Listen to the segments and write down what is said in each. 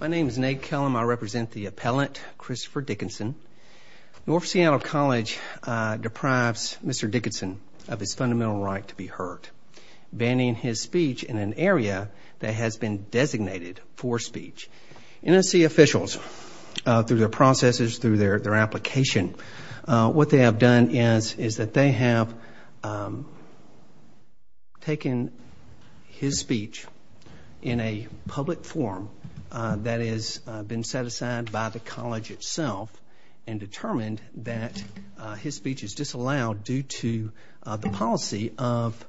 My name is Nate Kellum. I represent the appellant, Christopher Dickinson. North Seattle College deprives Mr. Dickinson of his fundamental right to be heard, banning his speech in an area that has been designated for speech. NSC officials, through their processes, through their application, what they have done is that they have taken his speech in a public forum that has been set aside by the college itself and determined that his speech is disallowed due to the policy of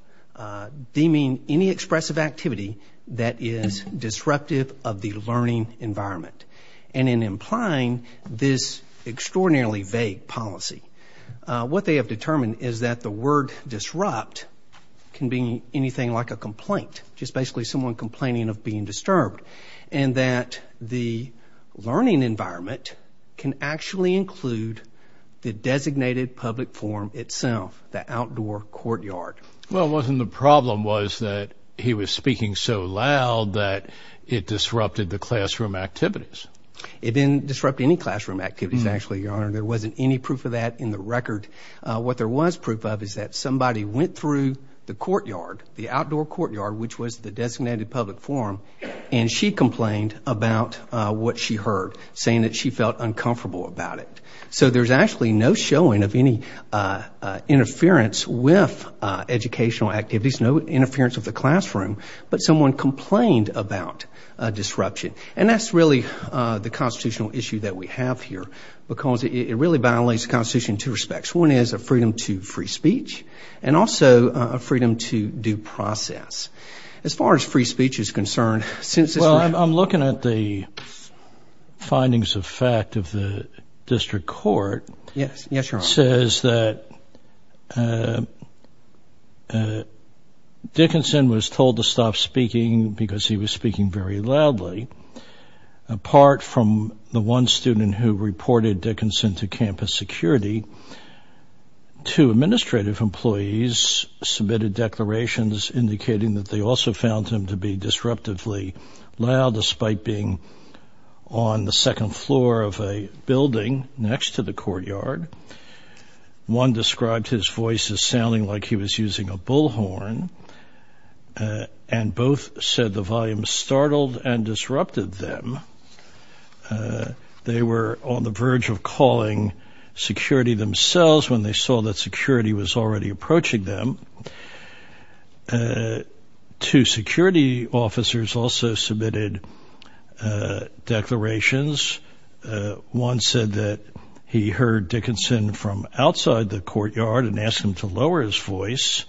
deeming any expressive activity that is disruptive of the learning environment. And in implying this extraordinarily vague policy, what they have determined is that the word disrupt can be anything like a complaint, just basically someone complaining of being disturbed, and that the learning environment can actually include the designated public forum itself, the outdoor courtyard. Well, wasn't the problem was that he was speaking so loud that it disrupted the classroom activities? It didn't disrupt any classroom activities, actually, Your Honor. There wasn't any proof of that in the record. What there was proof of is that somebody went through the courtyard, the outdoor courtyard, which was the designated public forum, and she complained about what she heard, saying that she felt uncomfortable about it. So there's actually no showing of any interference with educational activities, no interference with the classroom, but someone complained about a disruption. And that's really the constitutional issue that we have here because it really violates the Constitution in two respects. One is a freedom to free speech and also a freedom to due process. I'm looking at the findings of fact of the district court. Yes, Your Honor. It says that Dickinson was told to stop speaking because he was speaking very loudly. Apart from the one student who reported Dickinson to campus security, two administrative employees submitted declarations indicating that they also found him to be disruptively loud despite being on the second floor of a building next to the courtyard. One described his voice as sounding like he was using a bullhorn, and both said the volume startled and disrupted them. They were on the verge of calling security themselves when they saw that security was already approaching them. Two security officers also submitted declarations. One said that he heard Dickinson from outside the courtyard and asked him to lower his voice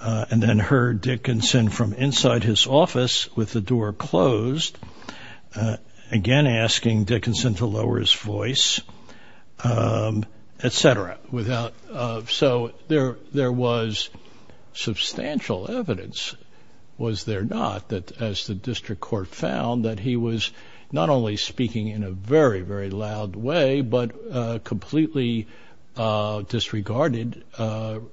and then heard Dickinson from inside his office with the door closed, again asking Dickinson to lower his voice, et cetera. So there was substantial evidence, was there not, that as the district court found that he was not only speaking in a very, very loud way but a completely disregarded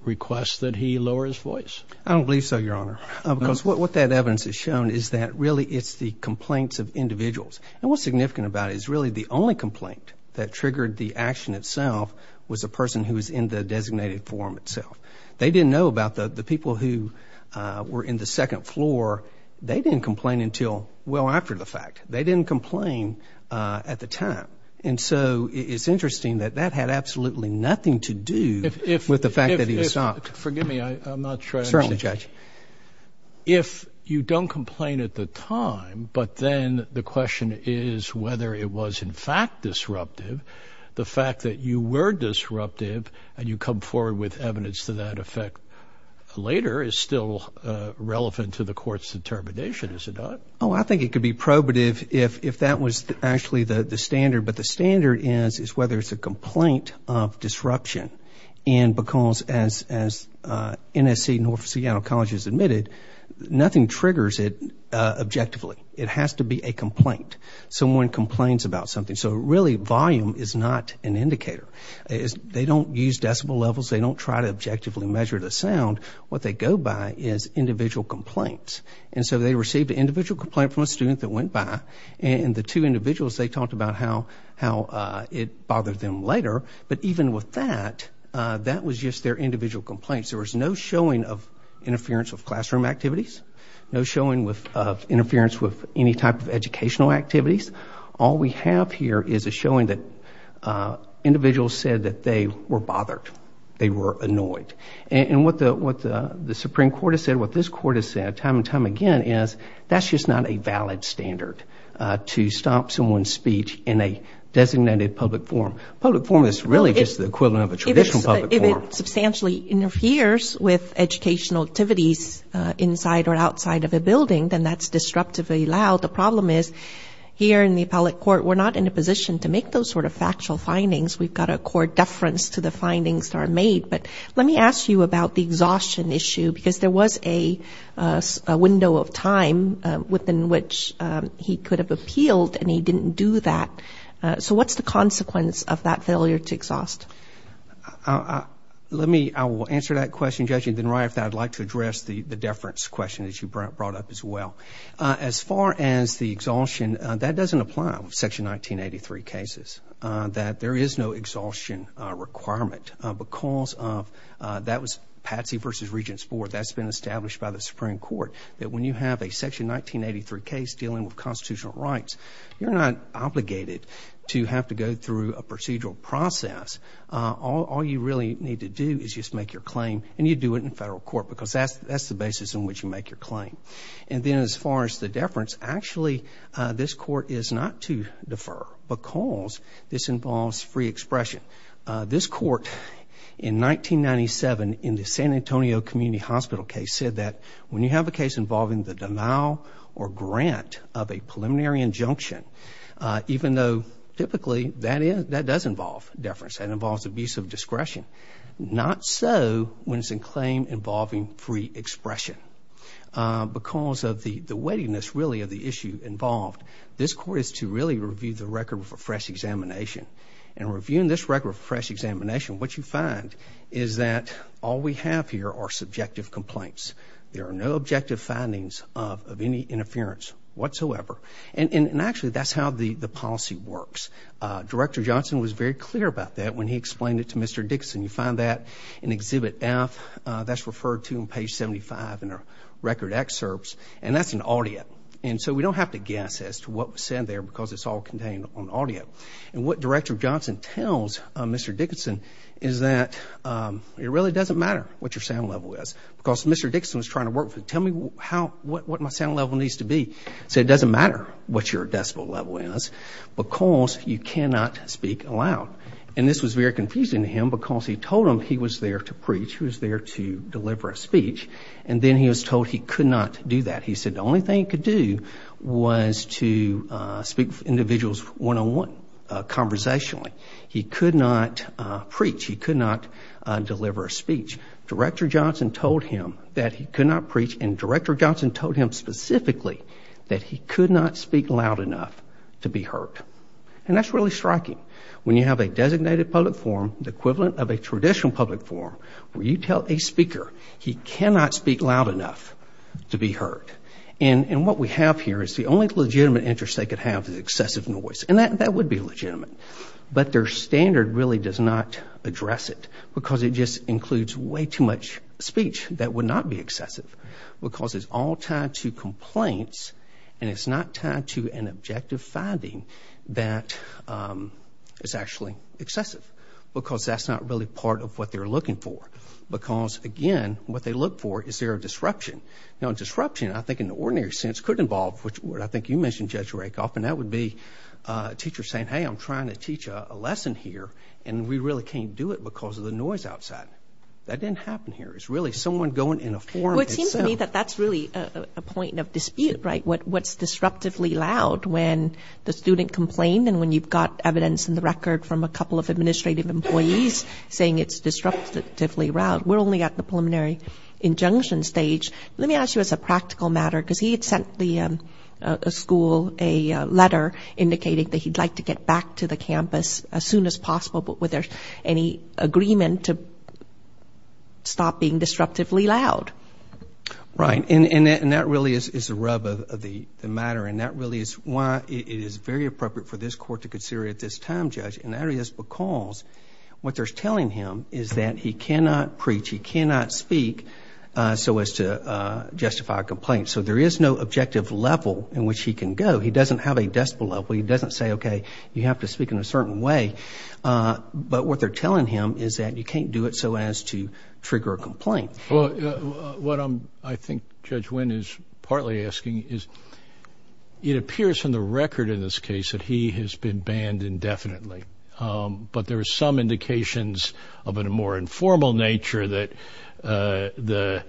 request that he lower his voice. I don't believe so, Your Honor. Because what that evidence has shown is that really it's the complaints of individuals. And what's significant about it is really the only complaint that triggered the action itself was a person who was in the designated forum itself. They didn't know about the people who were in the second floor. They didn't complain until well after the fact. They didn't complain at the time. And so it's interesting that that had absolutely nothing to do with the fact that he was not. Forgive me. I'm not sure I understand. Certainly, Judge. If you don't complain at the time but then the question is whether it was in fact disruptive, the fact that you were disruptive and you come forward with evidence to that effect later is still relevant to the court's determination, is it not? Oh, I think it could be probative if that was actually the standard. But the standard is whether it's a complaint of disruption. And because as NSC, North Seattle College, has admitted, nothing triggers it objectively. It has to be a complaint. Someone complains about something. So really volume is not an indicator. They don't use decibel levels. They don't try to objectively measure the sound. What they go by is individual complaints. And so they received an individual complaint from a student that went by. And the two individuals, they talked about how it bothered them later. But even with that, that was just their individual complaints. There was no showing of interference with classroom activities, no showing of interference with any type of educational activities. All we have here is a showing that individuals said that they were bothered, they were annoyed. And what the Supreme Court has said, what this court has said time and time again is that's just not a valid standard to stop someone's speech in a designated public forum. A public forum is really just the equivalent of a traditional public forum. If it substantially interferes with educational activities inside or outside of a building, then that's disruptively allowed. The problem is here in the appellate court, we're not in a position to make those sort of factual findings. We've got a court deference to the findings that are made. But let me ask you about the exhaustion issue because there was a window of time within which he could have appealed, and he didn't do that. So what's the consequence of that failure to exhaust? Let me answer that question, Judge. And then, Ryan, if I'd like to address the deference question that you brought up as well. As far as the exhaustion, that doesn't apply with Section 1983 cases, that there is no exhaustion requirement because of that was Patsey v. Regents Board. That's been established by the Supreme Court that when you have a Section 1983 case dealing with constitutional rights, you're not obligated to have to go through a procedural process. All you really need to do is just make your claim, and you do it in federal court because that's the basis on which you make your claim. And then as far as the deference, actually this court is not to defer because this involves free expression. This court in 1997 in the San Antonio Community Hospital case said that when you have a case involving the denial or grant of a preliminary injunction, even though typically that does involve deference, that involves abuse of discretion, not so when it's a claim involving free expression. Because of the weightiness, really, of the issue involved, this court is to really review the record for fresh examination. And reviewing this record for fresh examination, what you find is that all we have here are subjective complaints. There are no objective findings of any interference whatsoever. And actually, that's how the policy works. Director Johnson was very clear about that when he explained it to Mr. Dickinson. You find that in Exhibit F. That's referred to on page 75 in our record excerpts, and that's an audio. And so we don't have to guess as to what was said there because it's all contained on audio. And what Director Johnson tells Mr. Dickinson is that it really doesn't matter what your sound level is because Mr. Dickinson was trying to work with, tell me what my sound level needs to be. He said, it doesn't matter what your decibel level is because you cannot speak aloud. And this was very confusing to him because he told him he was there to preach, he was there to deliver a speech, and then he was told he could not do that. He said the only thing he could do was to speak with individuals one-on-one, conversationally. He could not deliver a speech. Director Johnson told him that he could not preach, and Director Johnson told him specifically that he could not speak loud enough to be heard. And that's really striking. When you have a designated public forum, the equivalent of a traditional public forum, where you tell a speaker he cannot speak loud enough to be heard. And what we have here is the only legitimate interest they could have is excessive noise. And that would be legitimate. But their standard really does not address it because it just includes way too much speech that would not be excessive because it's all tied to complaints and it's not tied to an objective finding that is actually excessive because that's not really part of what they're looking for. Because, again, what they look for is there a disruption. Now, disruption, I think, in the ordinary sense, could involve what I think you mentioned, Judge Rakoff, and that would be a teacher saying, hey, I'm trying to teach a lesson here, and we really can't do it because of the noise outside. That didn't happen here. It's really someone going in a forum itself. Well, it seems to me that that's really a point of dispute, right, what's disruptively loud when the student complained and when you've got evidence in the record from a couple of administrative employees saying it's disruptively loud. We're only at the preliminary injunction stage. Let me ask you as a practical matter, because he had sent the school a letter indicating that he'd like to get back to the campus as soon as possible, but was there any agreement to stop being disruptively loud? Right, and that really is the rub of the matter, and that really is why it is very appropriate for this court to consider it at this time, Judge, and that is because what they're telling him is that he cannot preach, he cannot speak, so as to justify a complaint. So there is no objective level in which he can go. He doesn't have a decibel level. He doesn't say, okay, you have to speak in a certain way, but what they're telling him is that you can't do it so as to trigger a complaint. Well, what I think Judge Wynn is partly asking is it appears in the record in this case that he has been banned indefinitely, but there are some indications of a more informal nature that the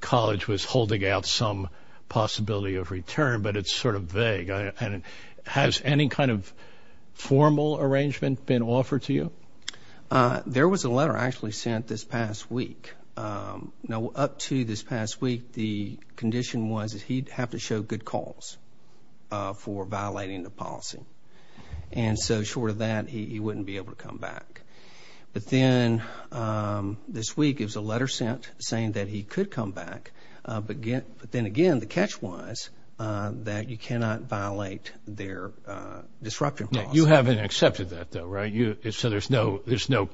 college was holding out some possibility of return, but it's sort of vague, and has any kind of formal arrangement been offered to you? There was a letter actually sent this past week. Now, up to this past week, the condition was that he'd have to show good cause for violating the policy, and so short of that, he wouldn't be able to come back. But then this week, it was a letter sent saying that he could come back, but then again, the catch was that you cannot violate their disruption policy. You haven't accepted that, though, right? So there's no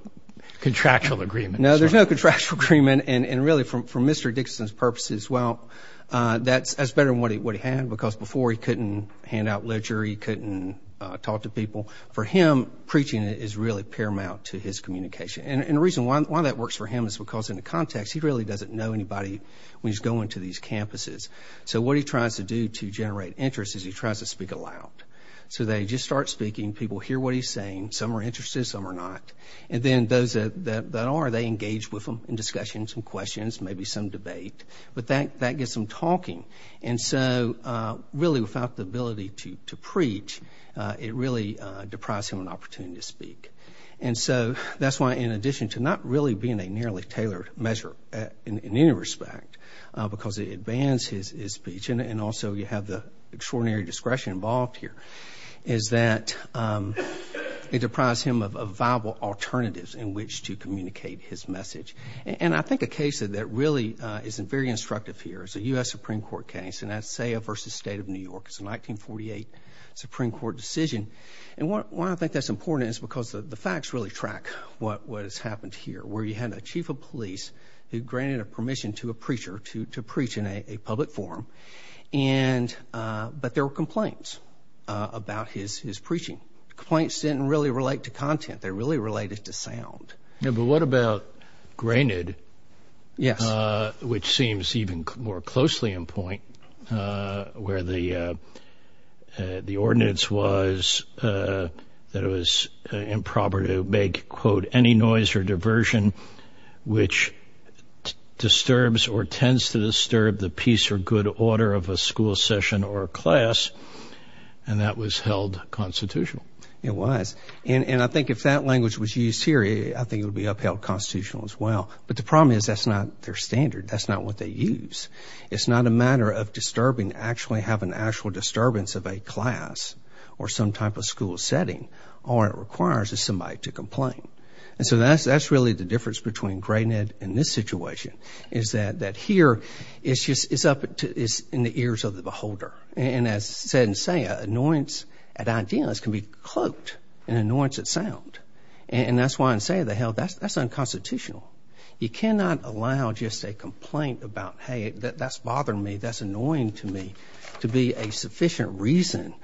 contractual agreement. No, there's no contractual agreement, and really, for Mr. Dixon's purposes, well, that's better than what he had because before he couldn't hand out ledger, he couldn't talk to people. For him, preaching is really paramount to his communication, and the reason why that works for him is because in the context, he really doesn't know anybody when he's going to these campuses. So what he tries to do to generate interest is he tries to speak aloud. So they just start speaking. People hear what he's saying. Some are interested. Some are not. And then those that are, they engage with him in discussions and questions, maybe some debate, but that gets them talking. And so, really, without the ability to preach, it really deprives him an opportunity to speak. And so that's why, in addition to not really being a nearly tailored measure in any respect, because it bans his speech and also you have the extraordinary discretion involved here, is that it deprives him of viable alternatives in which to communicate his message. And I think a case that really isn't very instructive here is a U.S. Supreme Court case in Asseo v. State of New York. It's a 1948 Supreme Court decision. And why I think that's important is because the facts really track what has happened here, where you had a chief of police who granted permission to a preacher to preach in a public forum, but there were complaints about his preaching. Complaints didn't really relate to content. They really related to sound. But what about granted, which seems even more closely in point, where the ordinance was that it was improper to make, quote, any noise or diversion which disturbs or tends to disturb the peace or good order of a school session or a class, and that was held constitutional. It was. And I think if that language was used here, I think it would be upheld constitutional as well. But the problem is that's not their standard. That's not what they use. It's not a matter of disturbing, actually having an actual disturbance of a class or some type of school setting. All it requires is somebody to complain. And so that's really the difference between granted and this situation, is that here it's in the ears of the beholder. And as said in SAIA, annoyance at ideas can be cloaked in annoyance at sound. And that's why in SAIA they held that's unconstitutional. You cannot allow just a complaint about, hey, that's bothering me, that's annoying to me to be a sufficient reason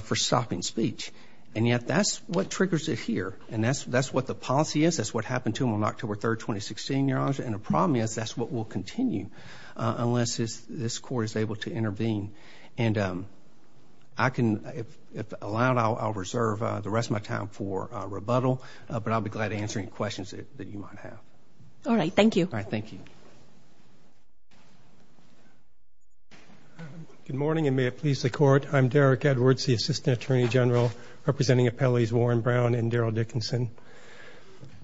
for stopping speech. And yet that's what triggers it here, and that's what the policy is. That's what happened to him on October 3, 2016, Your Honor. And the problem is that's what will continue unless this Court is able to intervene. And if allowed, I'll reserve the rest of my time for rebuttal, but I'll be glad to answer any questions that you might have. All right, thank you. All right, thank you. Good morning, and may it please the Court. I'm Derek Edwards, the Assistant Attorney General, representing Appellees Warren Brown and Daryl Dickinson.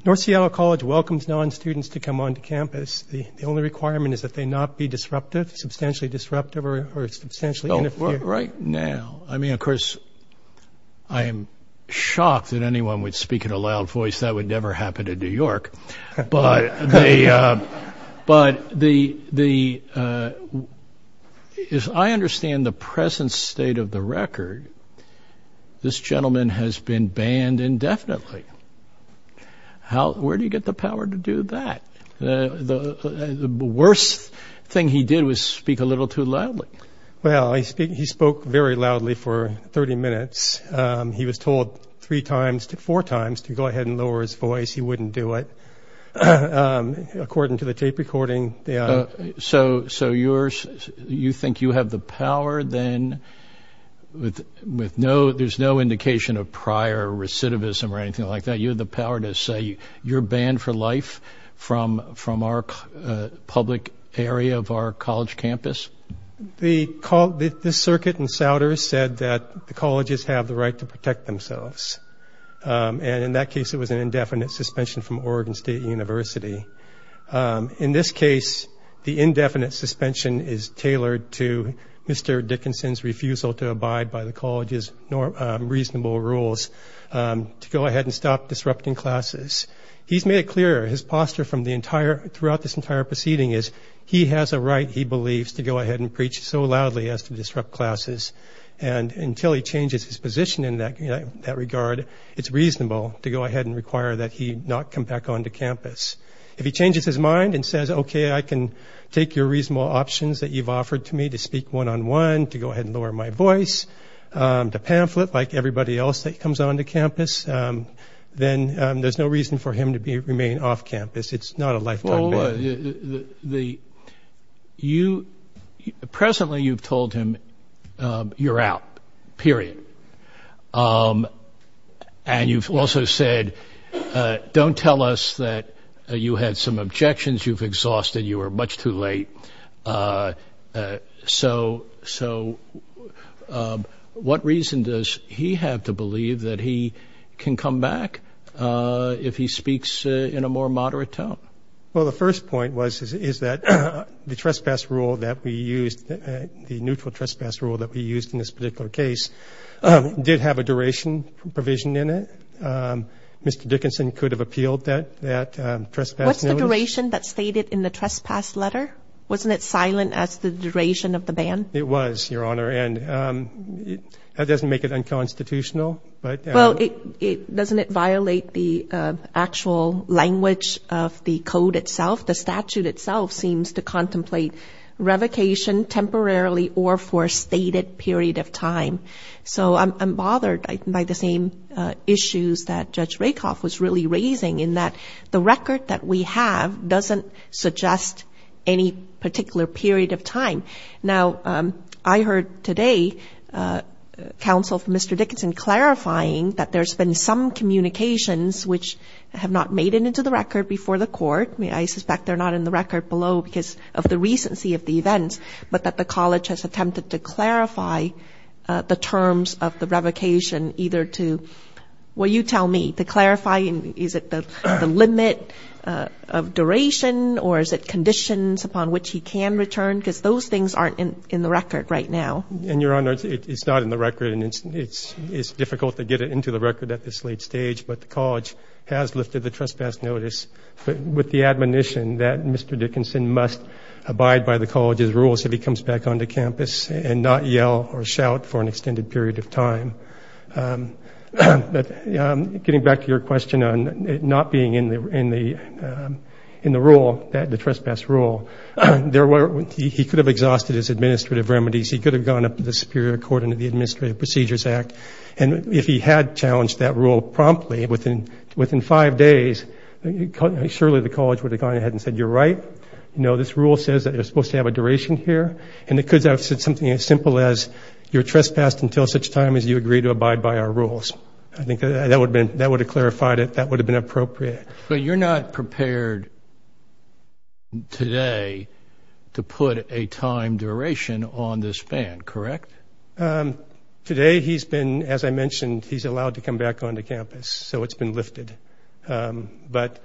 North Seattle College welcomes non-students to come onto campus. The only requirement is that they not be disruptive, substantially disruptive, or substantially interfering. Right now, I mean, of course, I am shocked that anyone would speak in a loud voice. That would never happen in New York. But I understand the present state of the record. This gentleman has been banned indefinitely. Where do you get the power to do that? The worst thing he did was speak a little too loudly. Well, he spoke very loudly for 30 minutes. He was told three times, four times to go ahead and lower his voice. He wouldn't do it. According to the tape recording, they are. So you think you have the power then with no indication of prior recidivism or anything like that? You have the power to say you're banned for life from our public area of our college campus? This circuit in Souders said that the colleges have the right to protect themselves. And in that case, it was an indefinite suspension from Oregon State University. In this case, the indefinite suspension is tailored to Mr. Dickinson's refusal to abide by the college's reasonable rules to go ahead and stop disrupting classes. He's made it clear. His posture throughout this entire proceeding is he has a right, he believes, to go ahead and preach so loudly as to disrupt classes. And until he changes his position in that regard, it's reasonable to go ahead and require that he not come back onto campus. If he changes his mind and says, okay, I can take your reasonable options that you've offered to me to speak one-on-one, to go ahead and lower my voice, to pamphlet like everybody else that comes onto campus, then there's no reason for him to remain off campus. It's not a lifetime ban. Presently, you've told him you're out, period. And you've also said, don't tell us that you had some objections, you've exhausted, you were much too late. So what reason does he have to believe that he can come back if he speaks in a more moderate tone? Well, the first point is that the trespass rule that we used, the neutral trespass rule that we used in this particular case, did have a duration provision in it. Mr. Dickinson could have appealed that trespass notice. What's the duration that's stated in the trespass letter? Wasn't it silent as the duration of the ban? It was, Your Honor, and that doesn't make it unconstitutional. Well, doesn't it violate the actual language of the code itself? The statute itself seems to contemplate revocation temporarily or for a stated period of time. So I'm bothered by the same issues that Judge Rakoff was really raising, in that the record that we have doesn't suggest any particular period of time. Now, I heard today counsel from Mr. Dickinson clarifying that there's been some communications which have not made it into the record before the court. I suspect they're not in the record below because of the recency of the events, but that the college has attempted to clarify the terms of the revocation either to, well, you tell me, to clarify is it the limit of duration or is it conditions upon which he can return, because those things aren't in the record right now. And, Your Honor, it's not in the record, and it's difficult to get it into the record at this late stage, but the college has lifted the trespass notice with the admonition that Mr. Dickinson must abide by the rules if he comes back onto campus and not yell or shout for an extended period of time. Getting back to your question on it not being in the rule, the trespass rule, he could have exhausted his administrative remedies, he could have gone up to the Superior Court under the Administrative Procedures Act, and if he had challenged that rule promptly within five days, surely the college would have gone ahead and said, you're right, you know, this rule says that you're supposed to have a duration here, and it could have said something as simple as, you're trespassed until such time as you agree to abide by our rules. I think that would have clarified it, that would have been appropriate. But you're not prepared today to put a time duration on this ban, correct? Today he's been, as I mentioned, he's allowed to come back onto campus, so it's been lifted. But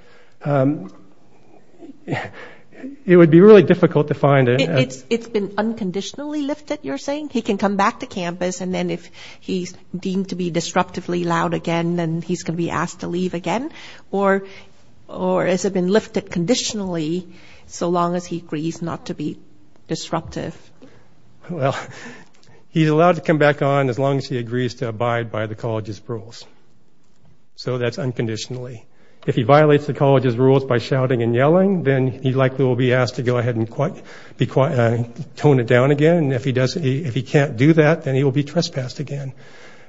it would be really difficult to find it. It's been unconditionally lifted, you're saying? He can come back to campus, and then if he's deemed to be disruptively loud again, then he's going to be asked to leave again? Or has it been lifted conditionally so long as he agrees not to be disruptive? Well, he's allowed to come back on as long as he agrees to abide by the college's rules. So that's unconditionally. If he violates the college's rules by shouting and yelling, then he likely will be asked to go ahead and tone it down again, and if he can't do that, then he will be trespassed again.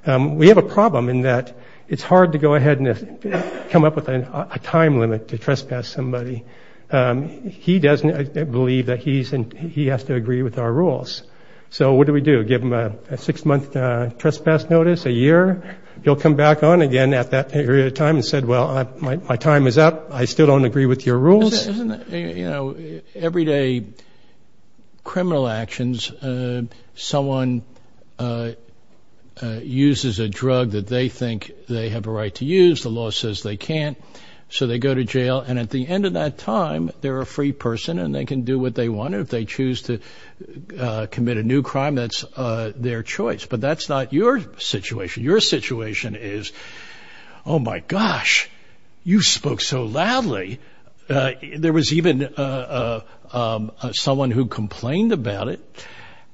We have a problem in that it's hard to go ahead and come up with a time limit to trespass somebody. He doesn't believe that he has to agree with our rules. So what do we do, give him a six-month trespass notice, a year? He'll come back on again at that period of time and say, well, my time is up. I still don't agree with your rules. You know, everyday criminal actions, someone uses a drug that they think they have a right to use, the law says they can't, so they go to jail, and at the end of that time, they're a free person and they can do what they want. If they choose to commit a new crime, that's their choice. But that's not your situation. Your situation is, oh, my gosh, you spoke so loudly, there was even someone who complained about it,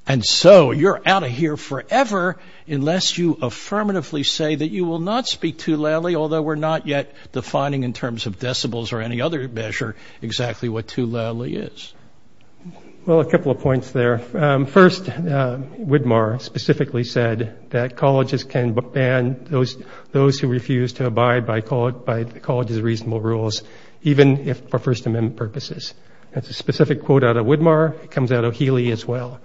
and so you're out of here forever unless you affirmatively say that you will not speak too loudly, although we're not yet defining in terms of decibels or any other measure exactly what too loudly is. Well, a couple of points there. First, Widmar specifically said that colleges can ban those who refuse to abide by the college's reasonable rules, even if for First Amendment purposes. That's a specific quote out of Widmar. It comes out of Healy as well.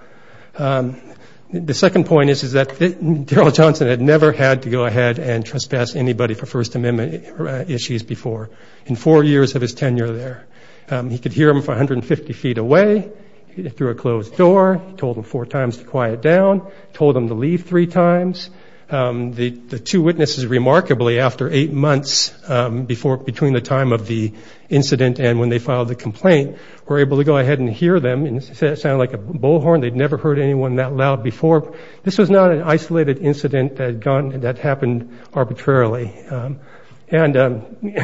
The second point is that Daryl Johnson had never had to go ahead and trespass anybody for First Amendment issues before in four years of his tenure there. He could hear them from 150 feet away through a closed door, told them four times to quiet down, told them to leave three times. The two witnesses, remarkably, after eight months between the time of the incident and when they filed the complaint, were able to go ahead and hear them. It sounded like a bullhorn. They'd never heard anyone that loud before. This was not an isolated incident that happened arbitrarily. And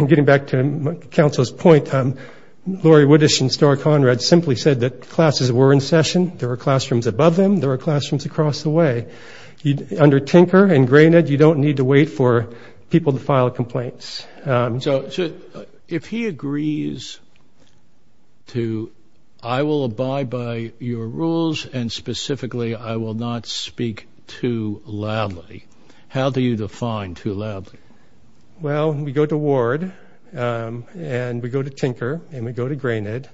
getting back to counsel's point, Laurie Widdish and Starr Conrad simply said that classes were in session, there were classrooms above them, there were classrooms across the way. Under Tinker and Granite, you don't need to wait for people to file complaints. So if he agrees to, I will abide by your rules, and specifically, I will not speak too loudly, how do you define too loudly? Well, we go to Ward, and we go to Tinker, and we go to Granite,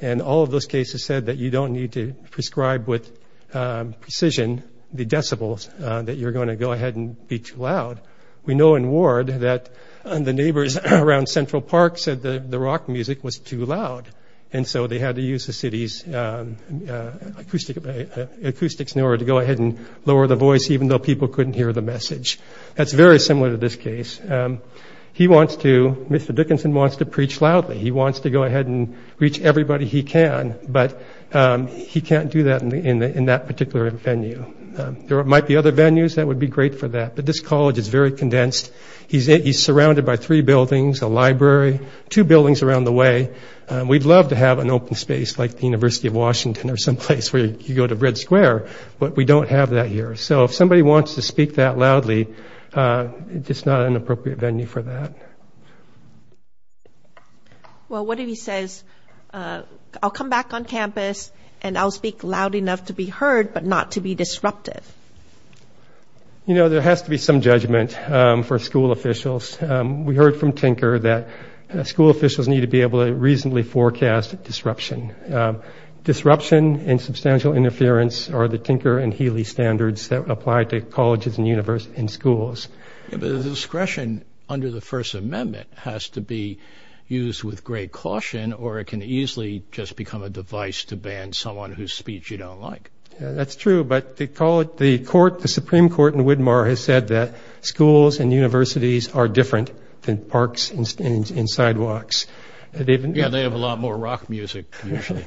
and all of those cases said that you don't need to prescribe with precision the decibels, that you're going to go ahead and be too loud. We know in Ward that the neighbors around Central Park said the rock music was too loud, and so they had to use the city's acoustics in order to go ahead and lower the voice, even though people couldn't hear the message. That's very similar to this case. He wants to, Mr. Dickinson wants to preach loudly. He wants to go ahead and reach everybody he can, but he can't do that in that particular venue. There might be other venues that would be great for that, but this college is very condensed. He's surrounded by three buildings, a library, two buildings around the way. We'd love to have an open space like the University of Washington or someplace where you go to Red Square, but we don't have that here. So if somebody wants to speak that loudly, it's just not an appropriate venue for that. Well, what if he says, I'll come back on campus and I'll speak loud enough to be heard but not to be disruptive? You know, there has to be some judgment for school officials. We heard from Tinker that school officials need to be able to reasonably forecast disruption. Disruption and substantial interference are the Tinker and Healy standards that apply to colleges and universities and schools. But the discretion under the First Amendment has to be used with great caution or it can easily just become a device to ban someone whose speech you don't like. That's true. But the Supreme Court in Widmar has said that schools and universities are different than parks and sidewalks. Yeah, they have a lot more rock music, usually.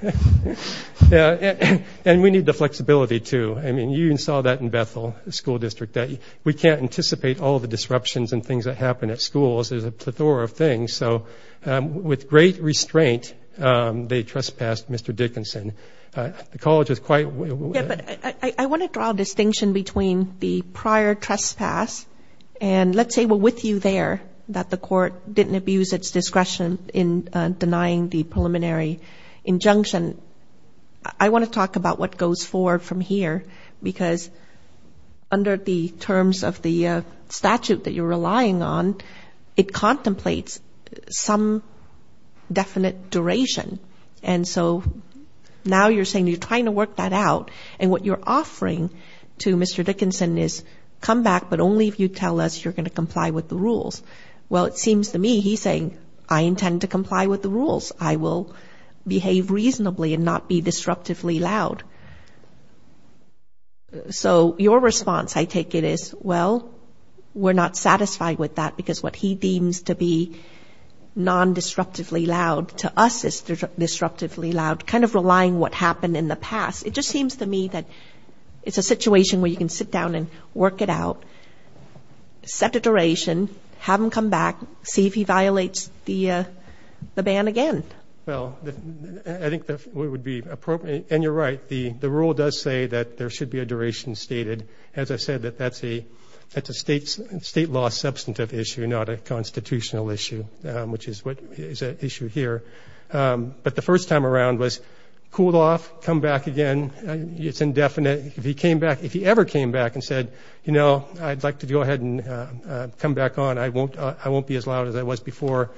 Yeah, and we need the flexibility, too. I mean, you saw that in Bethel, the school district, that we can't anticipate all the disruptions and things that happen at schools. There's a plethora of things. So with great restraint, they trespassed Mr. Dickinson. The college was quite – Yeah, but I want to draw a distinction between the prior trespass and let's say we're with you there, that the court didn't abuse its discretion in denying the preliminary injunction. I want to talk about what goes forward from here because under the terms of the statute that you're relying on, it contemplates some definite duration. And so now you're saying you're trying to work that out, and what you're offering to Mr. Dickinson is come back, but only if you tell us you're going to comply with the rules. Well, it seems to me he's saying, I intend to comply with the rules. I will behave reasonably and not be disruptively loud. So your response, I take it, is, well, we're not satisfied with that because what he deems to be non-disruptively loud to us is disruptively loud, kind of relying what happened in the past. It just seems to me that it's a situation where you can sit down and work it out, set a duration, have him come back, see if he violates the ban again. Well, I think that would be appropriate. And you're right, the rule does say that there should be a duration stated. As I said, that's a state law substantive issue, not a constitutional issue, which is an issue here. But the first time around was cooled off, come back again. It's indefinite. If he ever came back and said, you know, I'd like to go ahead and come back on, I won't be as loud as I was before,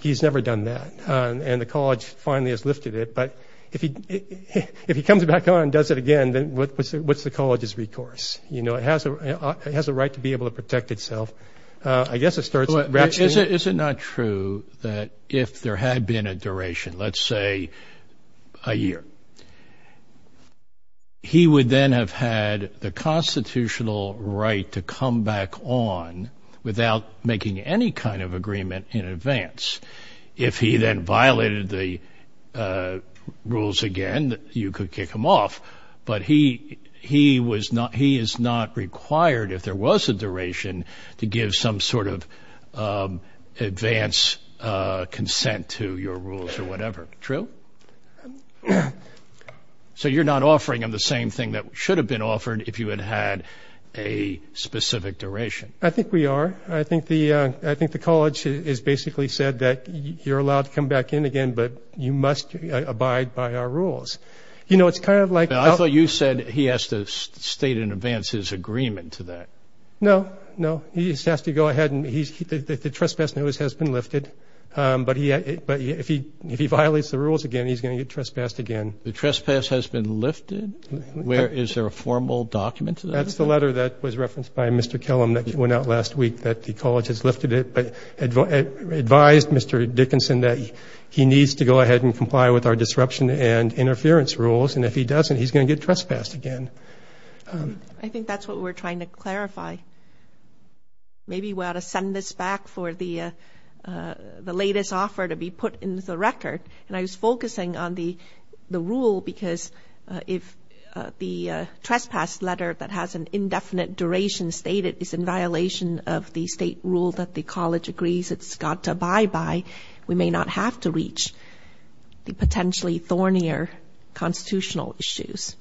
he's never done that. And the college finally has lifted it. But if he comes back on and does it again, then what's the college's recourse? You know, it has a right to be able to protect itself. Is it not true that if there had been a duration, let's say a year, he would then have had the constitutional right to come back on without making any kind of agreement in advance? If he then violated the rules again, you could kick him off. But he is not required, if there was a duration, to give some sort of advance consent to your rules or whatever. True? So you're not offering him the same thing that should have been offered if you had had a specific duration. I think we are. I think the college has basically said that you're allowed to come back in again, but you must abide by our rules. I thought you said he has to state in advance his agreement to that. No, no. He just has to go ahead and the trespass notice has been lifted. But if he violates the rules again, he's going to get trespassed again. The trespass has been lifted? Is there a formal document to that? That's the letter that was referenced by Mr. Kellum that went out last week that the college has lifted it, advised Mr. Dickinson that he needs to go ahead and comply with our disruption and interference rules, and if he doesn't, he's going to get trespassed again. I think that's what we're trying to clarify. Maybe we ought to send this back for the latest offer to be put into the record. And I was focusing on the rule because if the trespass letter that has an indefinite duration stated that it's in violation of the state rule that the college agrees it's got to abide by, we may not have to reach the potentially thornier constitutional issues.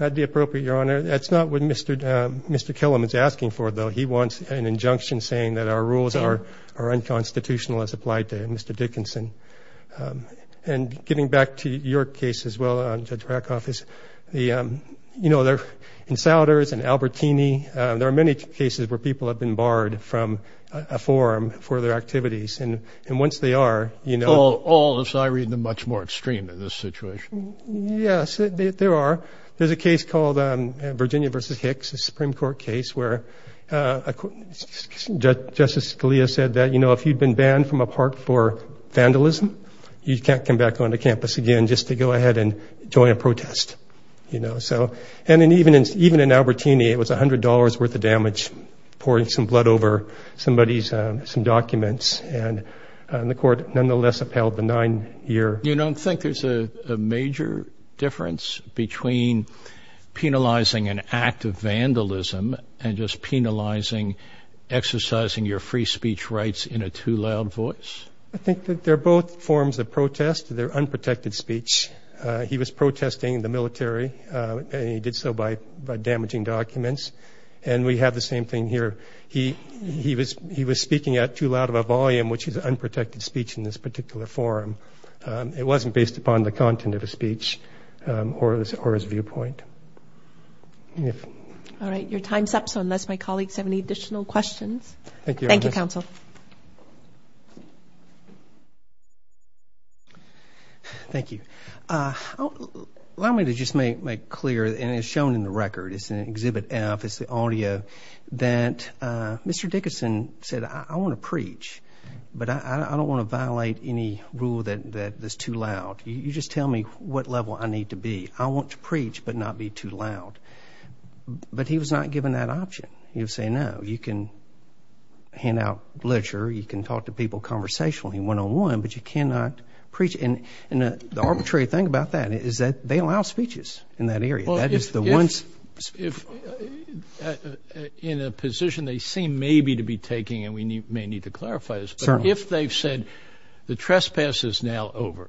Not the appropriate, Your Honor. That's not what Mr. Kellum is asking for, though. He wants an injunction saying that our rules are unconstitutional as applied to Mr. Dickinson. And getting back to your case as well, Judge Rakoff, is the, you know, the insiders and Albertini, there are many cases where people have been barred from a forum for their activities. And once they are, you know. All, as I read them, much more extreme in this situation. Yes, there are. There's a case called Virginia v. Hicks, a Supreme Court case where Justice Scalia said that, you know, if you'd been banned from a park for vandalism, you can't come back onto campus again just to go ahead and join a protest. You know, so. And even in Albertini, it was $100 worth of damage, pouring some blood over somebody's documents. And the court nonetheless upheld the nine-year. You don't think there's a major difference between penalizing an act of vandalism and just penalizing exercising your free speech rights in a too loud voice? I think that they're both forms of protest. They're unprotected speech. He was protesting the military, and he did so by damaging documents. And we have the same thing here. He was speaking out too loud of a volume, which is unprotected speech in this particular forum. It wasn't based upon the content of his speech or his viewpoint. All right. Your time's up, so unless my colleagues have any additional questions. Thank you. Thank you, counsel. Thank you. Allow me to just make clear, and it's shown in the record, it's in Exhibit F, it's the audio, that Mr. Dickinson said, I want to preach, but I don't want to violate any rule that is too loud. You just tell me what level I need to be. I want to preach but not be too loud. But he was not given that option. He was saying, no, you can hand out literature, you can talk to people conversationally one-on-one, but you cannot preach. And the arbitrary thing about that is that they allow speeches in that area. That is the one. In a position they seem maybe to be taking, and we may need to clarify this, but if they've said the trespass is now over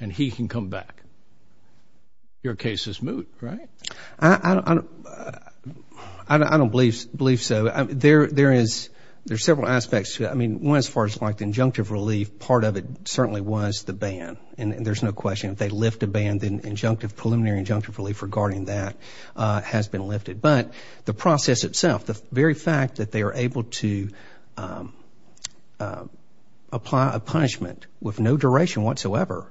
and he can come back, your case is moved, right? I don't believe so. There is several aspects to it. I mean, one as far as like the injunctive relief, part of it certainly was the ban, and there's no question. If they lift a ban, then preliminary injunctive relief regarding that has been lifted. But the process itself, the very fact that they are able to apply a punishment with no duration whatsoever,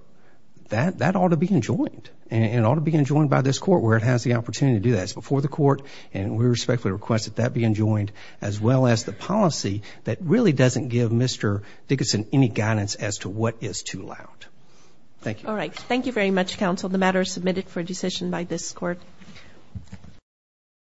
that ought to be enjoined, and it ought to be enjoined by this court where it has the opportunity to do that. It's before the court, and we respectfully request that that be enjoined, as well as the policy that really doesn't give Mr. Dickinson any guidance as to what is too loud. Thank you. All right, thank you very much, counsel. The matter is submitted for decision by this court.